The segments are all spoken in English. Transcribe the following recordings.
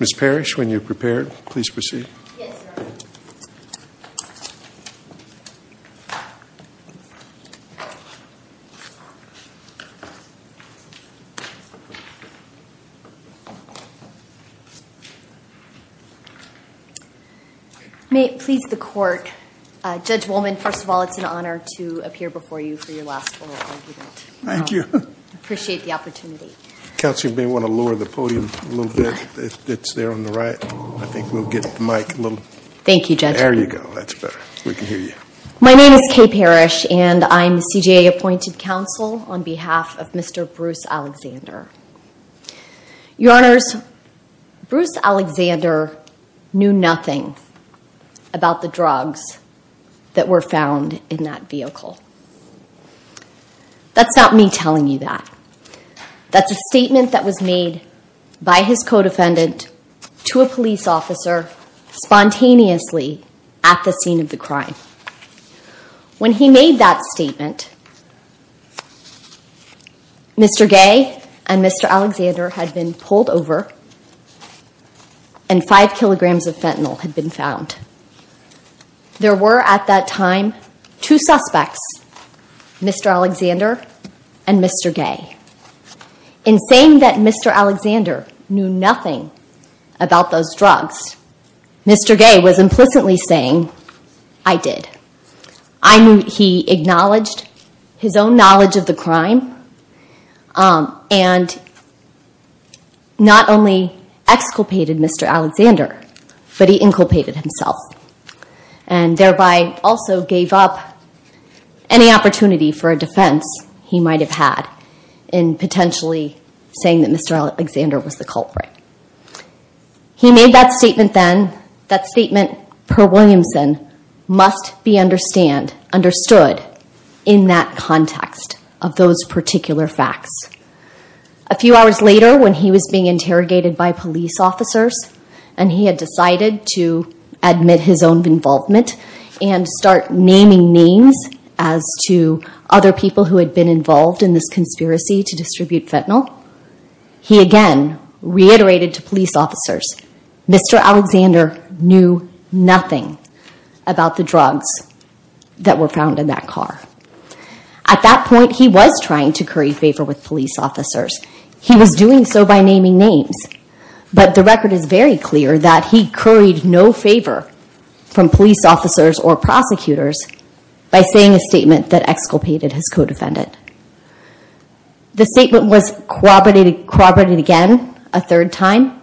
Ms. Parrish, when you are prepared, please proceed. May it please the court, Judge Wollman, first of all, it's an honor to appear before you for your last oral argument. Thank you. I appreciate the opportunity. Counsel, you may want to lower the podium a little bit. It's there on the right. I think we'll get the mic a little... Thank you, Judge. There you go. That's better. We can hear you. My name is Kay Parrish and I'm the CJA appointed counsel on behalf of Mr. Bruce Alexander. Your Honors, Bruce Alexander knew nothing about the drugs that were found in that vehicle. That's not me telling you that. That's a statement that was made by his co-defendant to a police officer spontaneously at the scene of the crime. When he made that statement, Mr. Gay and Mr. Alexander had been pulled over and five kilograms of fentanyl had been found. There were, at that time, two suspects, Mr. Alexander and Mr. Gay. In saying that Mr. Alexander knew nothing about those drugs, Mr. Gay was implicitly saying, I did. He acknowledged his own knowledge of the crime and not only exculpated Mr. Alexander, but he inculpated himself and thereby also gave up any opportunity for a defense he might have had in potentially saying that Mr. Alexander was the culprit. He made that statement then. That statement, per Williamson, must be understood in that context of those particular facts. A few hours later, when he was being interrogated by police officers and he had decided to admit his own involvement and start naming names as to other people who had been involved in this conspiracy to distribute fentanyl, he again reiterated to police officers, Mr. Alexander knew nothing about the drugs that were found in that car. At that point, he was trying to curry favor with police officers. He was doing so by naming names, but the record is very clear that he curried no favor from police officers or prosecutors by saying a statement that exculpated his co-defendant. The statement was corroborated again a third time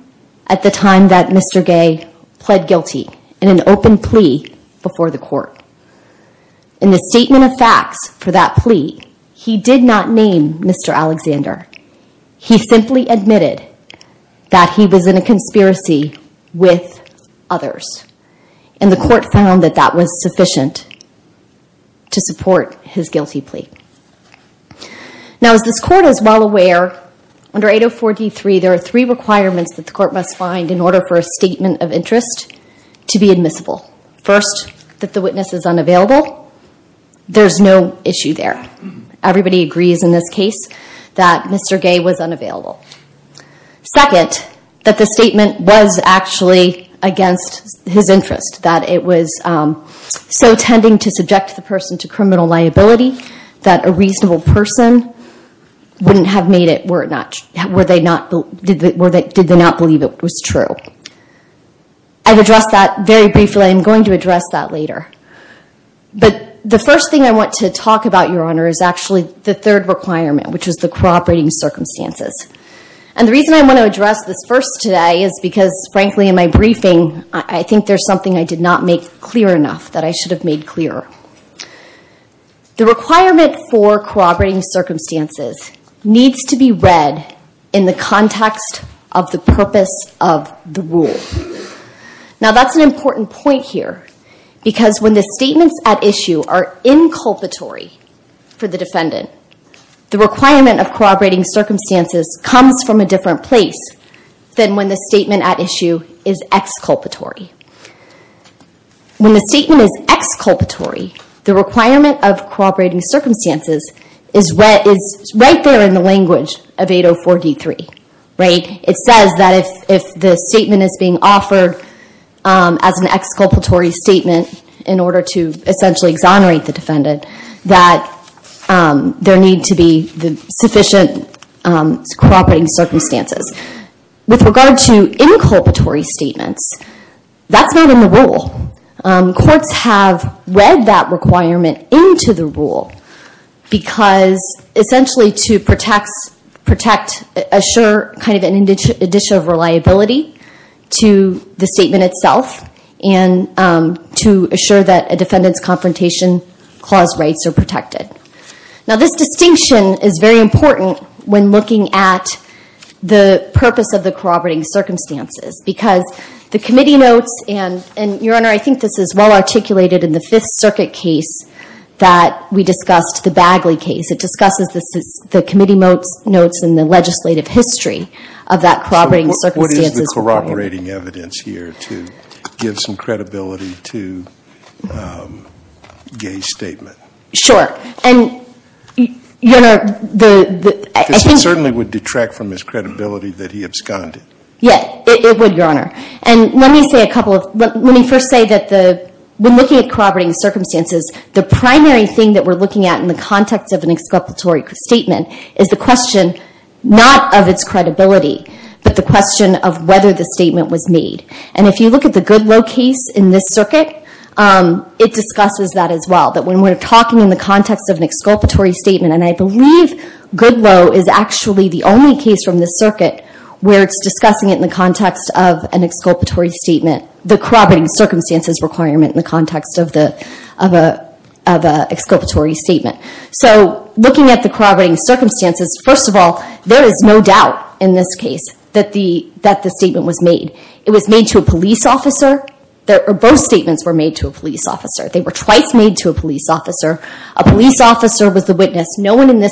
at the time that Mr. Gay pled guilty in an open plea before the court. In the statement of facts for that plea, he did not name Mr. Alexander. He simply admitted that he was in a conspiracy with others. The court found that that was sufficient to support his guilty plea. Now, as this court is well aware, under 804 D3, there are three requirements that the court must find in order for a statement of interest to be admissible. First, that the witness is unavailable. There's no issue there. Everybody agrees in this case that Mr. Gay was unavailable. Second, that the statement was actually against his interest, that it was so tending to subject the person to criminal liability that a reasonable person wouldn't have made it were they not believe it was true. I've addressed that very briefly. I'm going to address that later. But the first thing I want to talk about, Your Honor, is actually the third requirement, which is the corroborating circumstances. And the reason I want to address this first today is because, frankly, in my briefing, I think there's something I did not make clear enough that I should have made clearer. The requirement for corroborating circumstances needs to be read in the context of the purpose of the rule. Now that's an important point here, because when the statements at issue are inculpatory for the defendant, the requirement of corroborating circumstances comes from a different place than when the statement at issue is exculpatory. When the statement is exculpatory, the requirement of corroborating circumstances is right there in the language of 804 D3. It says that if the statement is being offered as an exculpatory statement in order to essentially exonerate the defendant, that there need to be sufficient corroborating circumstances. With regard to inculpatory statements, that's not in the rule. Courts have read that requirement into the rule, because essentially to protect, assure kind of an addition of reliability to the statement itself, and to assure that a defendant's confrontation clause rights are protected. Now this distinction is very important when looking at the purpose of the corroborating circumstances, because the committee notes, and Your Honor, I think this is well articulated in the Fifth Circuit case that we discussed, the Bagley case. It discusses the committee notes and the legislative history of that corroborating circumstances. What is the corroborating evidence here to give some credibility to Gay's statement? Sure. And Your Honor, I think... It would retract from his credibility that he absconded. Yes, it would, Your Honor. And let me say a couple of... Let me first say that when looking at corroborating circumstances, the primary thing that we're looking at in the context of an exculpatory statement is the question, not of its credibility, but the question of whether the statement was made. And if you look at the Goodloe case in this circuit, it discusses that as well, that when we're talking in the context of an exculpatory statement, and I believe Goodloe is actually the only case from this circuit where it's discussing it in the context of an exculpatory statement, the corroborating circumstances requirement in the context of an exculpatory statement. So looking at the corroborating circumstances, first of all, there is no doubt in this case that the statement was made. It was made to a police officer. Both statements were made to a police officer. They were twice made to a police officer. A police officer was the witness. No one in this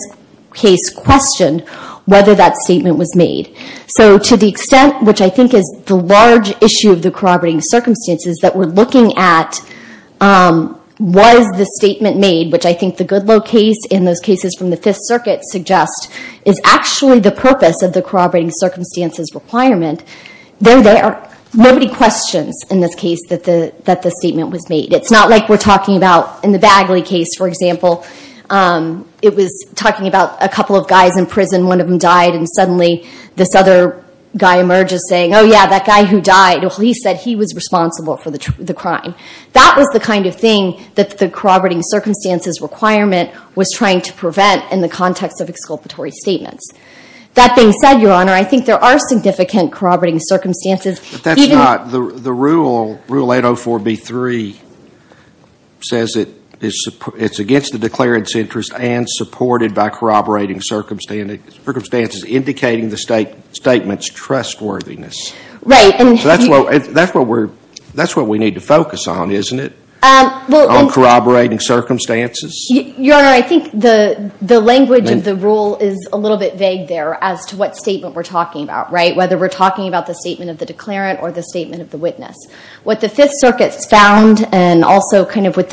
case questioned whether that statement was made. So to the extent, which I think is the large issue of the corroborating circumstances that we're looking at, was the statement made, which I think the Goodloe case and those cases from the Fifth Circuit suggest is actually the purpose of the corroborating circumstances requirement. They're there. Nobody questions in this case that the statement was made. It's not like we're talking about in the Bagley case, for example. It was talking about a couple of guys in prison, one of them died, and suddenly this other guy emerges saying, oh yeah, that guy who died, the police said he was responsible for the crime. That was the kind of thing that the corroborating circumstances requirement was trying to prevent in the context of exculpatory statements. That being said, Your Honor, I think there are significant corroborating circumstances. But that's not, the rule 804b3 says it's against the declarant's interest and supported by corroborating circumstances indicating the statement's trustworthiness. Right. So that's what we need to focus on, isn't it? On corroborating circumstances? Your Honor, I think the language of the rule is a little bit vague there as to what statement we're talking about, right? Whether we're talking about the statement of the declarant or the statement of the witness. What the Fifth Circuit found, and also what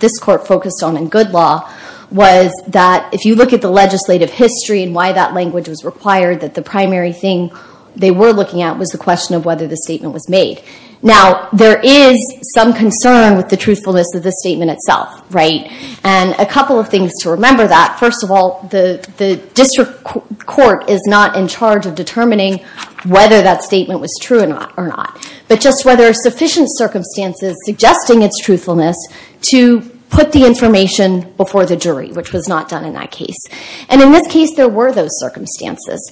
this court focused on in good law, was that if you look at the legislative history and why that language was required, that the primary thing they were looking at was the question of whether the statement was made. Now there is some concern with the truthfulness of the statement itself, right? And a couple of things to remember that, first of all, the district court is not in charge of determining whether that statement was true or not, but just whether sufficient circumstances suggesting its truthfulness to put the information before the jury, which was not done in that case. And in this case, there were those circumstances.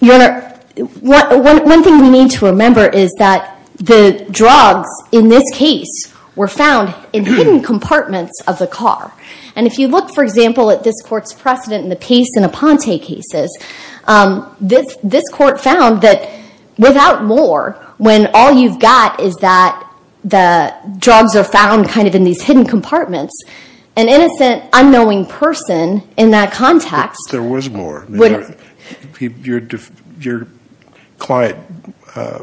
Your Honor, one thing we need to remember is that the drugs in this case were found in hidden compartments of the car. And if you look, for example, at this court's precedent in the Pace and Aponte cases, this court found that without more, when all you've got is that the drugs are found kind of in these hidden compartments, an innocent, unknowing person in that context... There was more. Your client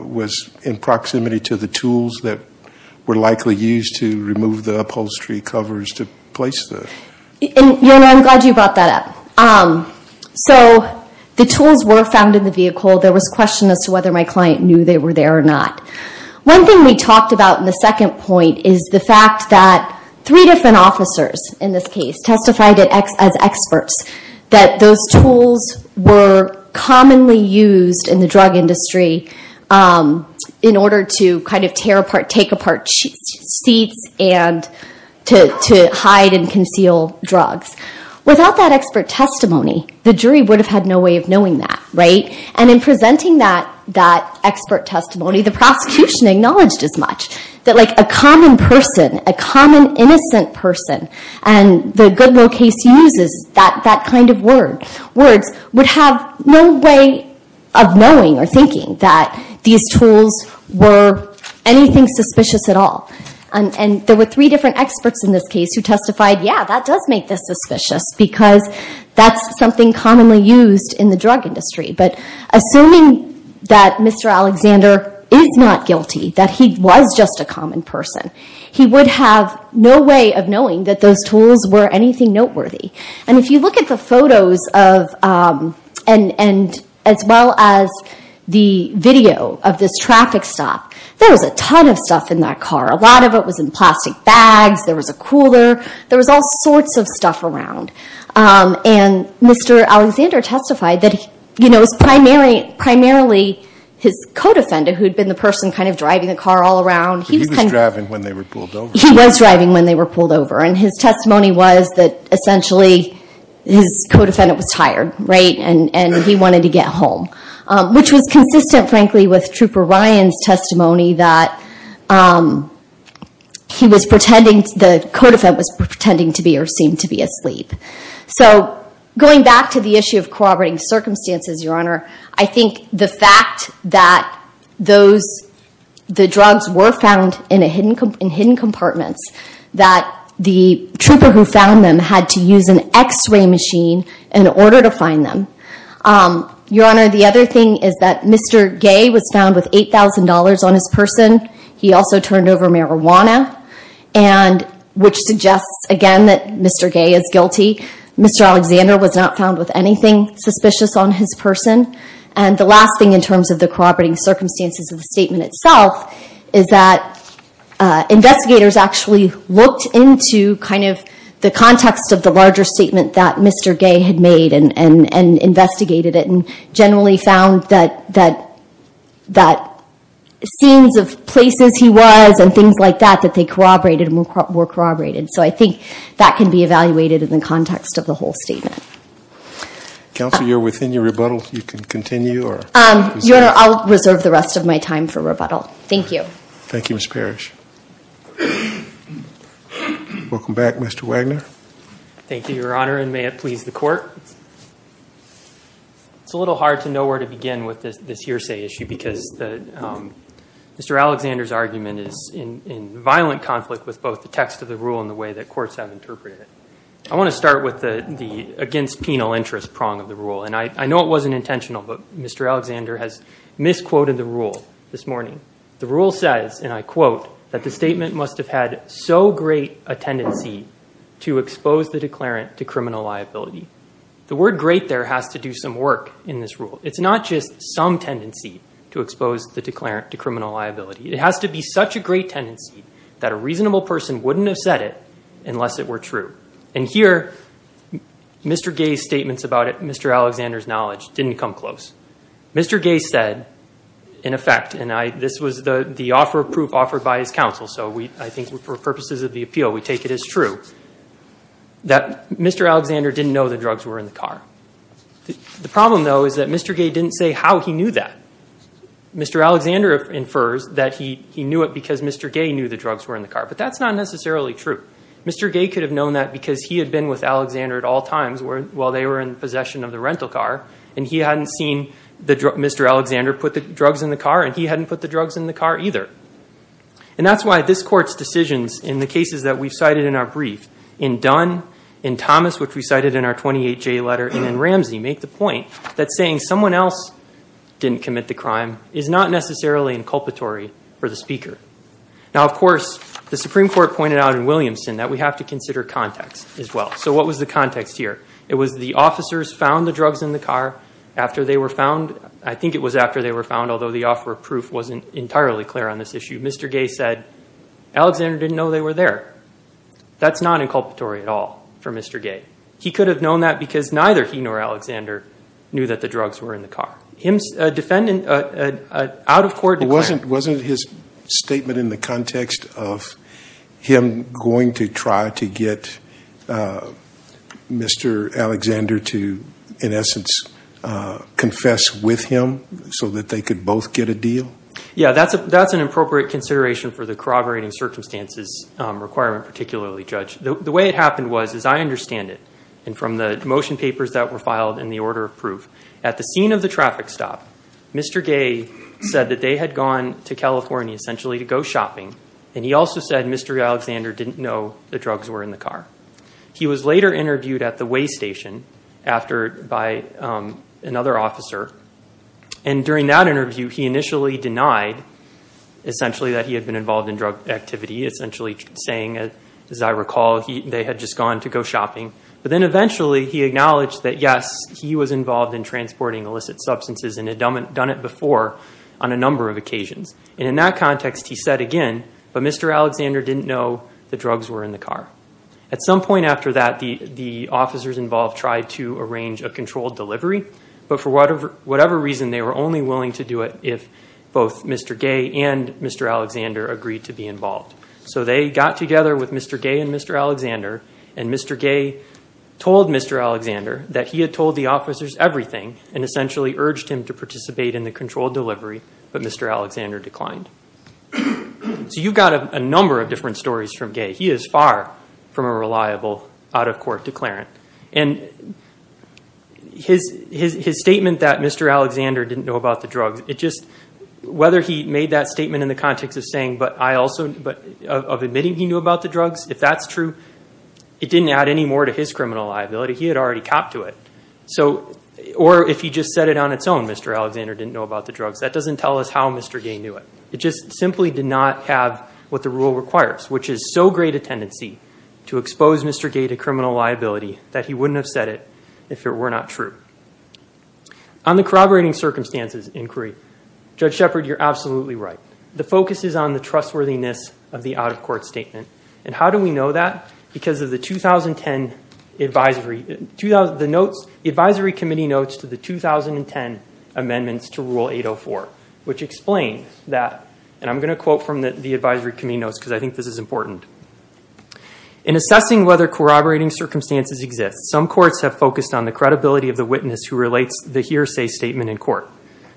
was in proximity to the tools that were likely used to remove the upholstery covers to place them. Your Honor, I'm glad you brought that up. So the tools were found in the vehicle. There was question as to whether my client knew they were there or not. One thing we talked about in the second point is the fact that three different officers in this case testified as experts, that those tools were commonly used in the drug industry in order to kind of tear apart, take apart seats and to hide and conceal drugs. Without that expert testimony, the jury would have had no way of knowing that, right? And in presenting that expert testimony, the prosecution acknowledged as much, that a common person, a common innocent person, and the good low case uses that kind of word, would have no way of knowing or thinking that these tools were anything suspicious at all. And there were three different experts in this case who testified, yeah, that does make this suspicious because that's something commonly used in the drug industry. But assuming that Mr. Alexander is not guilty, that he was just a common person, he would have no way of knowing that those tools were anything noteworthy. And if you look at the photos of, and as well as the video of this traffic stop, there was a ton of stuff in that car. A lot of it was in plastic bags, there was a cooler, there was all sorts of stuff around. And Mr. Alexander testified that, you know, it was primarily his co-defendant, who had been the person kind of driving the car all around. He was kind of- He was driving when they were pulled over. He was driving when they were pulled over. And his testimony was that, essentially, his co-defendant was tired, right? And he wanted to get home, which was consistent, frankly, with Trooper Ryan's testimony that he was pretending, the co-defendant was pretending to be or seemed to be asleep. So going back to the issue of corroborating circumstances, Your Honor, I think the fact that the drugs were found in hidden compartments, that the trooper who found them had to use an x-ray machine in order to find them. Your Honor, the other thing is that Mr. Gay was found with $8,000 on his person. He also turned over marijuana, which suggests, again, that Mr. Gay is guilty. Mr. Alexander was not found with anything suspicious on his person. And the last thing in terms of the corroborating circumstances of that, investigators actually looked into kind of the context of the larger statement that Mr. Gay had made and investigated it, and generally found that scenes of places he was and things like that, that they corroborated and were corroborated. So I think that can be evaluated in the context of the whole statement. Counsel, you're within your rebuttal. You can continue or- Your Honor, I'll reserve the rest of my time for rebuttal. Thank you. Thank you, Ms. Parrish. Welcome back, Mr. Wagner. Thank you, Your Honor, and may it please the Court. It's a little hard to know where to begin with this hearsay issue because Mr. Alexander's argument is in violent conflict with both the text of the rule and the way that courts have interpreted it. I want to start with the against penal interest prong of the rule. And I know it wasn't intentional, but Mr. Alexander has misquoted the rule this morning. The rule says, and I quote, that the statement must have had so great a tendency to expose the declarant to criminal liability. The word great there has to do some work in this rule. It's not just some tendency to expose the declarant to criminal liability. It has to be such a great tendency that a reasonable person wouldn't have said it unless it were true. And here, Mr. Gay's statements about it, Mr. Alexander's knowledge didn't come close. Mr. Gay said, in effect, and this was the offer of proof offered by his counsel, so I think for purposes of the appeal, we take it as true, that Mr. Alexander didn't know the drugs were in the car. The problem, though, is that Mr. Gay didn't say how he knew that. Mr. Alexander infers that he knew it because Mr. Gay knew the drugs were in the car. But that's not necessarily true. Mr. Gay could have known that because he had been with Alexander at all times while they were in possession of the rental car, and he hadn't seen Mr. Alexander put the drugs in the car, and he hadn't put the drugs in the car either. And that's why this Court's decisions in the cases that we've cited in our brief, in Dunn, in Thomas, which we cited in our 28-J letter, and in Ramsey, make the point that saying someone else didn't commit the crime is not necessarily inculpatory for the speaker. Now, of course, the Supreme Court pointed out in Williamson that we have to consider context as well. So what was the context here? It was the officers found the drugs in the car after they were found. I think it was after they were found, although the offer of proof wasn't entirely clear on this issue. Mr. Gay said Alexander didn't know they were there. That's not inculpatory at all for Mr. Gay. He could have known that because neither he nor Alexander knew that the drugs were in the car. Him, a defendant, an out-of-court... Wasn't his statement in the context of him going to try to get Mr. Alexander to, in essence, confess with him so that they could both get a deal? Yeah, that's an appropriate consideration for the corroborating circumstances requirement, particularly, Judge. The way it happened was, as I understand it, and from the motion papers that were filed in the order of proof, at the scene of the traffic stop, Mr. Gay said that they had gone to California, essentially, to go shopping. And he also said Mr. Alexander didn't know the drugs were in the car. He was later interviewed at the weigh station by another officer. And during that interview, he initially denied, essentially, that he had been involved in drug activity, essentially saying, as I recall, they had just gone to go shopping. But then eventually, he acknowledged that, yes, he was involved in transporting illicit substances and had done it before on a number of occasions. And in that context, he said again, but Mr. Alexander didn't know the drugs were in the car. At some point after that, the officers involved tried to arrange a controlled delivery. But for whatever reason, they were only willing to do it if both Mr. Gay and Mr. Alexander agreed to be involved. So they got together with Mr. Gay and Mr. Alexander, and Mr. Gay told Mr. Alexander that he had told the officers everything and essentially urged him to participate in the controlled delivery. But Mr. Alexander declined. So you've got a number of different stories from Gay. He is far from a reliable out-of-court declarant. And his statement that Mr. Alexander didn't know about the drugs, whether he made that statement in the context of admitting he knew about the drugs, if that's true, it didn't add any more to his criminal liability. He had already copped to it. Or if he just said it on its own, Mr. Alexander didn't know about the drugs, that doesn't tell us how Mr. Gay knew it. It just simply did not have what the rule requires, which is so great a tendency to expose Mr. Gay to criminal liability that he wouldn't have said it if it were not true. On the corroborating circumstances inquiry, Judge Shepherd, you're absolutely right. The focus is on the trustworthiness of the out-of-court statement. And how do we know that? Because of the 2010 advisory, the advisory committee notes to the 2010 amendments to Rule 804, which explain that, and I'm going to quote from the advisory committee notes because I think this is important. In assessing whether corroborating circumstances exist, some courts have focused on the credibility of the witness who relates the hearsay statement in court.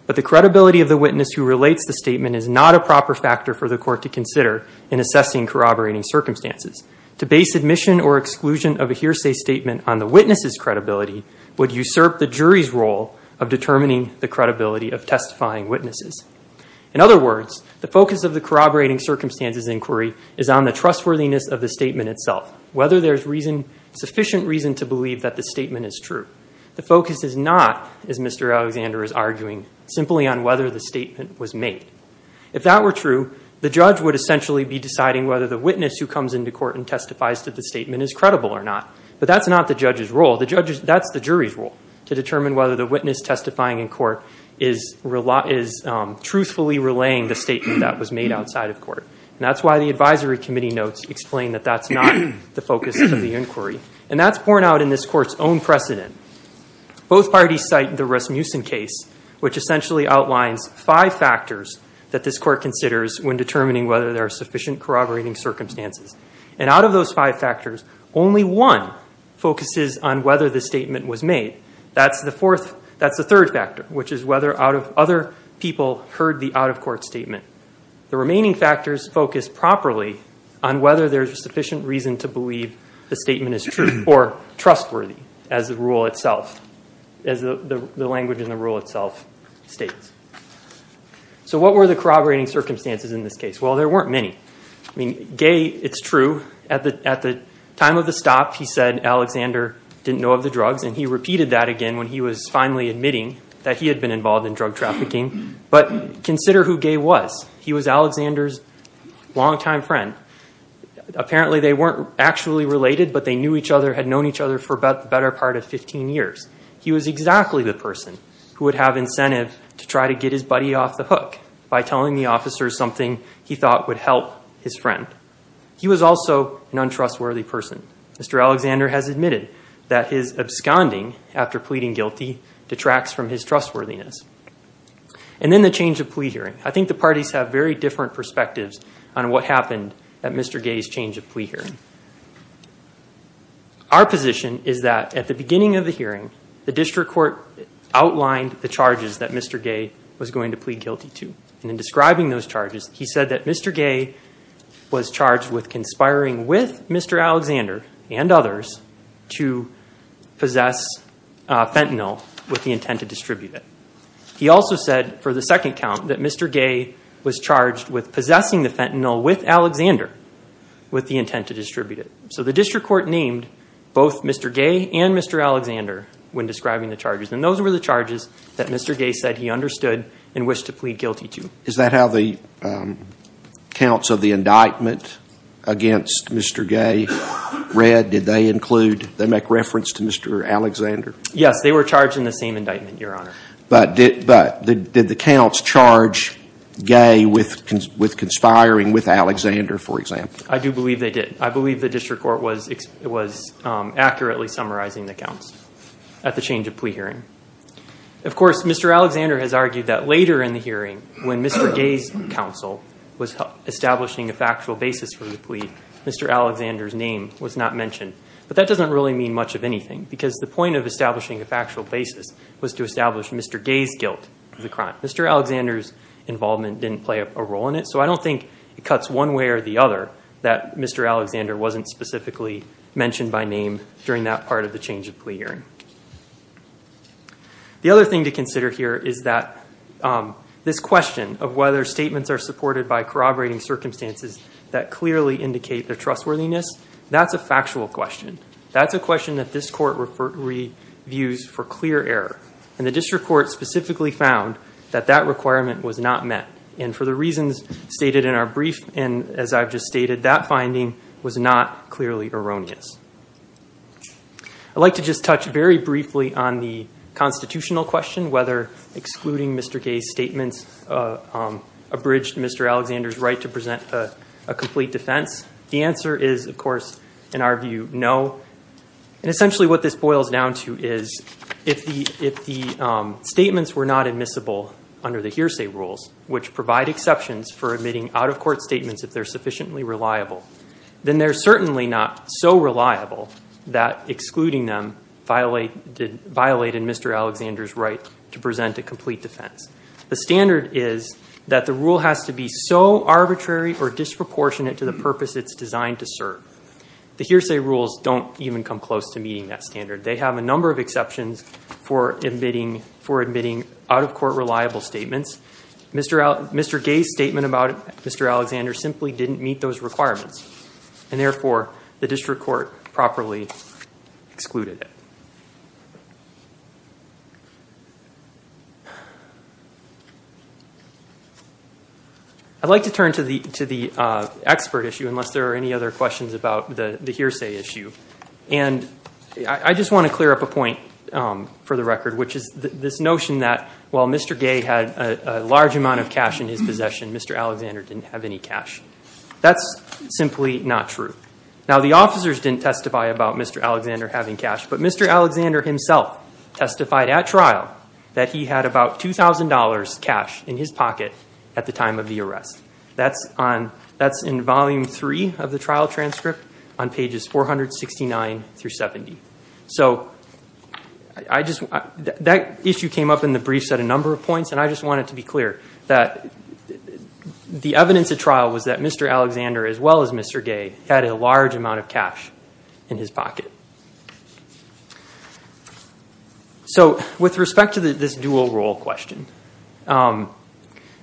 But the credibility of the witness who relates the statement is not a proper factor for the court to consider in assessing corroborating circumstances. To base admission or exclusion of a hearsay statement on the witness's credibility would usurp the jury's role of determining the credibility of testifying witnesses. In other words, the focus of the corroborating circumstances inquiry is on the trustworthiness of the statement itself, whether there's reason, sufficient reason to believe that the statement is true. The focus is not, as Mr. Alexander is arguing, simply on whether the statement was made. If that were true, the judge would essentially be deciding whether the witness who comes into court and testifies to the statement is credible or not. But that's not the judge's role. That's the jury's role to determine whether the witness testifying in court is truthfully relaying the statement that was made outside of court. And that's why the advisory committee notes explain that that's not the focus of the inquiry. And that's borne out in this court's own precedent. Both parties cite the Rasmussen case, which essentially outlines five factors that this court considers when determining whether there are sufficient corroborating circumstances. And out of those five factors, only one focuses on whether the statement was made. That's the third factor, which is whether other people heard the out-of-court statement. The remaining factors focus properly on whether there's sufficient reason to believe the statement is true or trustworthy, as the rule itself, as the language in the rule itself states. So what were the corroborating circumstances in this case? Well, there weren't many. Gay, it's true. At the time of the stop, he said Alexander didn't know of the drugs. And he repeated that again when he was finally admitting that he had been involved in drug trafficking. But consider who Gay was. He was Alexander's longtime friend. Apparently, they weren't actually related, but they knew each other, had known each other for about the better part of 15 years. He was exactly the person who would have incentive to try to get his buddy off the hook by telling the officers something he thought would help his friend. He was also an untrustworthy person. Mr. Alexander has admitted that his absconding after pleading guilty detracts from his trustworthiness. And then the change of plea hearing. I think the parties have very different perspectives on what happened at Mr. Gay's change of plea hearing. Our position is that at the beginning of the hearing, the district court outlined the charges that Mr. Gay was going to plead guilty to. And in describing those charges, he said that Mr. Gay was charged with conspiring with Mr. Alexander and others to possess fentanyl with the intent to distribute it. He also said for the second count that Mr. Gay was charged with possessing the fentanyl with Alexander with the intent to distribute it. So the district court named both Mr. Gay and Mr. Alexander when describing the charges. And those were the charges that Mr. Gay said he understood and wished to plead guilty to. Is that how the counts of the indictment against Mr. Gay read? Did they include, they make reference to Mr. Alexander? Yes, they were charged in the same indictment, Your Honor. But did the counts charge Gay with conspiring with Alexander, for example? I do believe they did. I believe the district court was accurately summarizing the counts at the change of plea hearing. Of course, Mr. Alexander has argued that later in the hearing when Mr. Gay's counsel was establishing a factual basis for the plea, Mr. Alexander's name was not mentioned. But that doesn't really mean much of anything because the point of establishing a factual basis was to establish Mr. Gay's guilt of the crime. Mr. Alexander's involvement didn't play a role in it. So I don't think it cuts one way or the other that Mr. Alexander wasn't specifically mentioned by name during that part of the change of plea hearing. The other thing to consider here is that this question of whether statements are supported by corroborating circumstances that clearly indicate their trustworthiness, that's a factual question. That's a question that this court reviews for clear error. And the district court specifically found that that requirement was not met. And for the reasons stated in our brief, and as I've just stated, that finding was not clearly erroneous. I'd like to just touch very briefly on the constitutional question, whether excluding Mr. Gay's statements abridged Mr. Alexander's right to present a complete defense. The answer is, of course, in our view, no. And essentially what this boils down to is if the statements were not admissible under the hearsay rules, which provide exceptions for admitting out-of-court statements if they're admissible, that excluding them violated Mr. Alexander's right to present a complete defense. The standard is that the rule has to be so arbitrary or disproportionate to the purpose it's designed to serve. The hearsay rules don't even come close to meeting that standard. They have a number of exceptions for admitting out-of-court reliable statements. Mr. Gay's statement about Mr. Alexander simply didn't meet those requirements. And therefore, the district court properly excluded it. I'd like to turn to the expert issue, unless there are any other questions about the hearsay issue. And I just want to clear up a point for the record, which is this notion that while Mr. Gay had a large amount of cash in his possession, Mr. Alexander didn't have any cash. That's simply not true. Now, the officers didn't testify about Mr. Alexander having cash. But Mr. Alexander himself testified at trial that he had about $2,000 cash in his pocket at the time of the arrest. That's in volume three of the trial transcript on pages 469 through 70. So that issue came up in the briefs at a number of points. And I just wanted to be clear that the evidence at trial was that Mr. Alexander, as well as Mr. Gay, had a large amount of cash in his pocket. So with respect to this dual role question,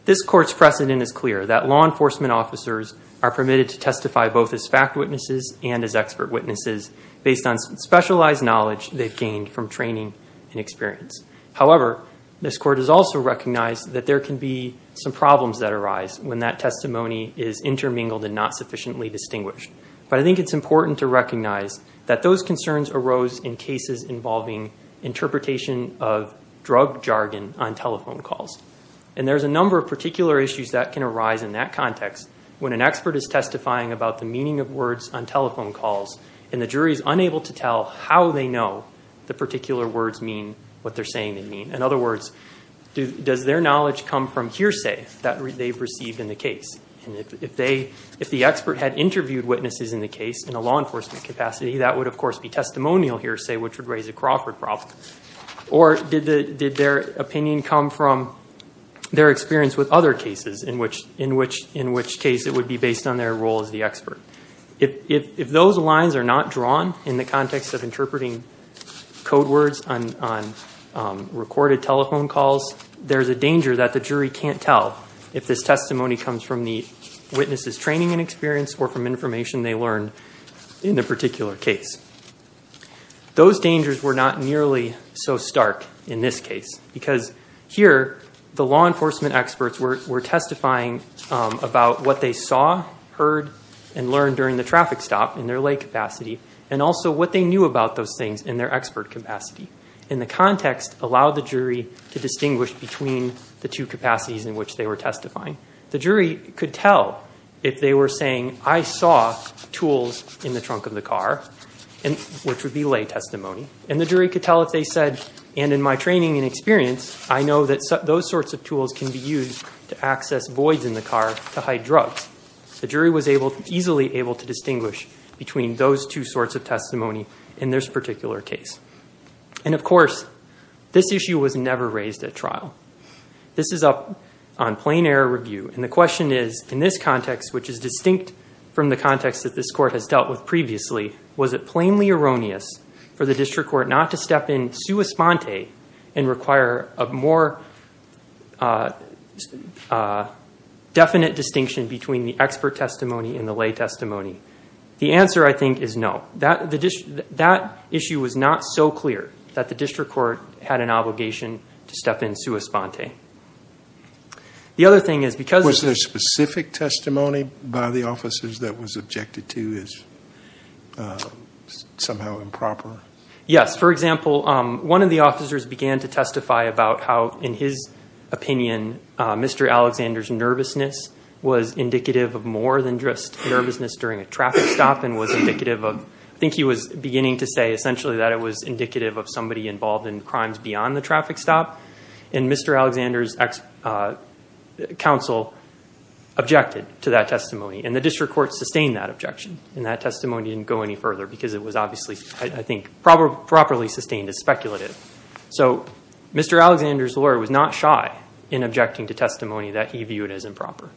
this court's precedent is clear that law enforcement officers are permitted to testify both as fact witnesses and as expert witnesses based on specialized knowledge they've gained from training and experience. However, this court has also recognized that there can be some problems that arise when that testimony is intermingled and not sufficiently distinguished. But I think it's important to recognize that those concerns arose in cases involving interpretation of drug jargon on telephone calls. And there's a number of particular issues that can arise in that context when an expert is testifying about the meaning of words on telephone calls and the jury is unable to what they're saying they mean. In other words, does their knowledge come from hearsay that they've received in the case? And if the expert had interviewed witnesses in the case in a law enforcement capacity, that would, of course, be testimonial hearsay, which would raise a Crawford problem. Or did their opinion come from their experience with other cases in which case it would be based on their role as the expert? If those lines are not drawn in the context of interpreting code words on recorded telephone calls, there's a danger that the jury can't tell if this testimony comes from the witness's training and experience or from information they learned in the particular case. Those dangers were not nearly so stark in this case because here the law enforcement experts were testifying about what they saw, heard, and learned during the traffic stop in their lay capacity and also what they knew about those things in their expert capacity. And the context allowed the jury to distinguish between the two capacities in which they were testifying. The jury could tell if they were saying, I saw tools in the trunk of the car, which would be lay testimony. And the jury could tell if they said, and in my training and experience, I know that those sorts of tools can be used to access voids in the car to hide drugs. The jury was easily able to distinguish between those two sorts of testimony in this particular case. And of course, this issue was never raised at trial. This is up on plain error review. And the question is, in this context, which is distinct from the context that this court has dealt with previously, was it plainly erroneous for the district court not to step in sua sponte and require a more definite distinction between the expert testimony and the lay testimony? The answer, I think, is no. That issue was not so clear that the district court had an obligation to step in sua sponte. The other thing is because- Was there specific testimony by the officers that was objected to as somehow improper? Yes. For example, one of the officers began to testify about how, in his opinion, Mr. Alexander's nervousness was indicative of more than just nervousness during a traffic stop and was indicative of- I think he was beginning to say, essentially, that it was indicative of somebody involved in crimes beyond the traffic stop. And Mr. Alexander's counsel objected to that testimony. And the district court sustained that objection. And that testimony didn't go any further because it was obviously, I think, properly sustained as speculative. So Mr. Alexander's lawyer was not shy in objecting to testimony that he viewed as improper.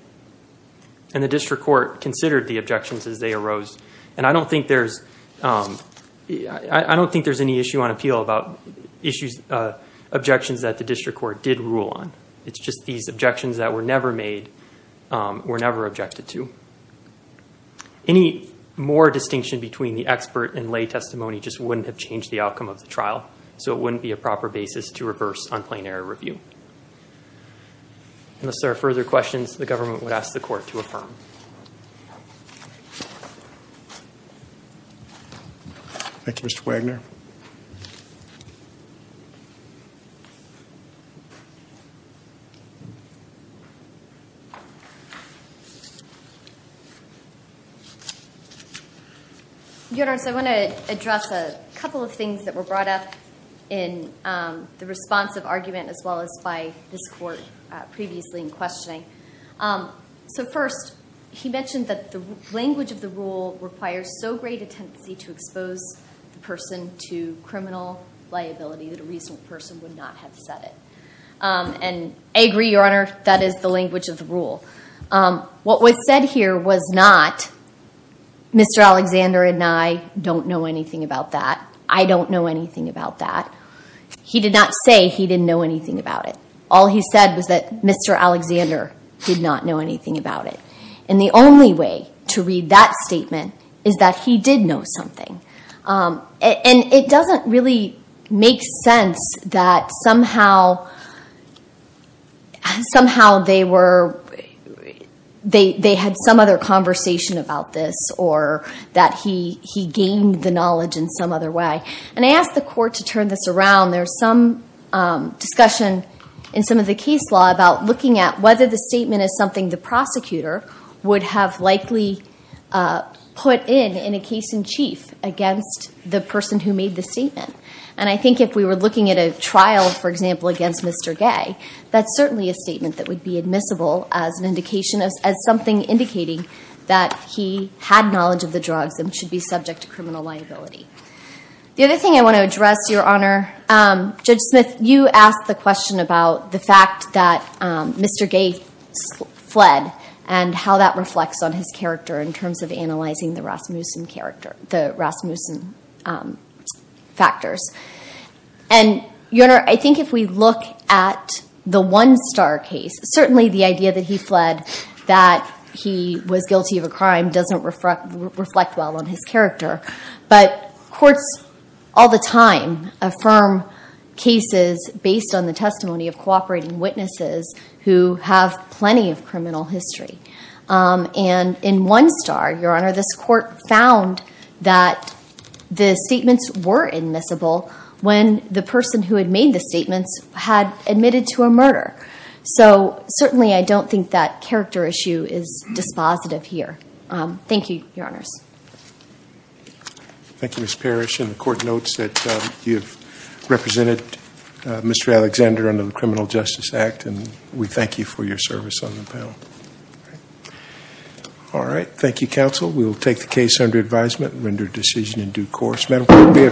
And the district court considered the objections as they arose. And I don't think there's any issue on appeal about objections that the district court did rule on. It's just these objections that were never made were never objected to. Any more distinction between the expert and lay testimony just wouldn't have changed the outcome of the trial. So it wouldn't be a proper basis to reverse unplanned error review. Unless there are further questions, the government would ask the court to affirm. Thank you, Mr. Wagner. Your Honor, so I want to address a couple of things that were brought up in the responsive argument, as well as by this court previously in questioning. So first, he mentioned that the language of the rule requires so great a tendency to expose the person to criminal liability that a reasonable person would not have said it. And I agree, Your Honor, that is the language of the rule. What was said here was not, Mr. Alexander and I don't know anything about that. I don't know anything about that. He did not say he didn't know anything about it. All he said was that Mr. Alexander did not know anything about it. And the only way to read that statement is that he did know something. And it doesn't really make sense that somehow they had some other conversation about this, or that he gained the knowledge in some other way. And I ask the court to turn this around. There's some discussion in some of the case law about looking at whether the statement is something the prosecutor would have likely put in in a case in chief against the person who made the statement. And I think if we were looking at a trial, for example, against Mr. Gay, that's certainly a statement that would be admissible as something indicating that he had knowledge of the drugs and should be subject to criminal liability. The other thing I want to address, Your Honor, Judge Smith, you asked the question about the fact that Mr. Gay fled, and how that reflects on his character in terms of analyzing the Rasmussen character, the Rasmussen factors. And Your Honor, I think if we look at the One Star case, certainly the idea that he fled, that he was guilty of a crime, doesn't reflect well on his character. But courts all the time affirm cases based on the testimony of cooperating witnesses who have plenty of criminal history. And in One Star, Your Honor, this court found that the statements were admissible when the person who had made the statements had admitted to a murder. So certainly, I don't think that character issue is dispositive here. Thank you, Your Honors. Thank you, Ms. Parrish. And the court notes that you have represented Mr. Alexander under the Criminal Justice Act, and we thank you for your service on the panel. All right. Thank you, counsel. We will take the case under advisement and render a decision in due course.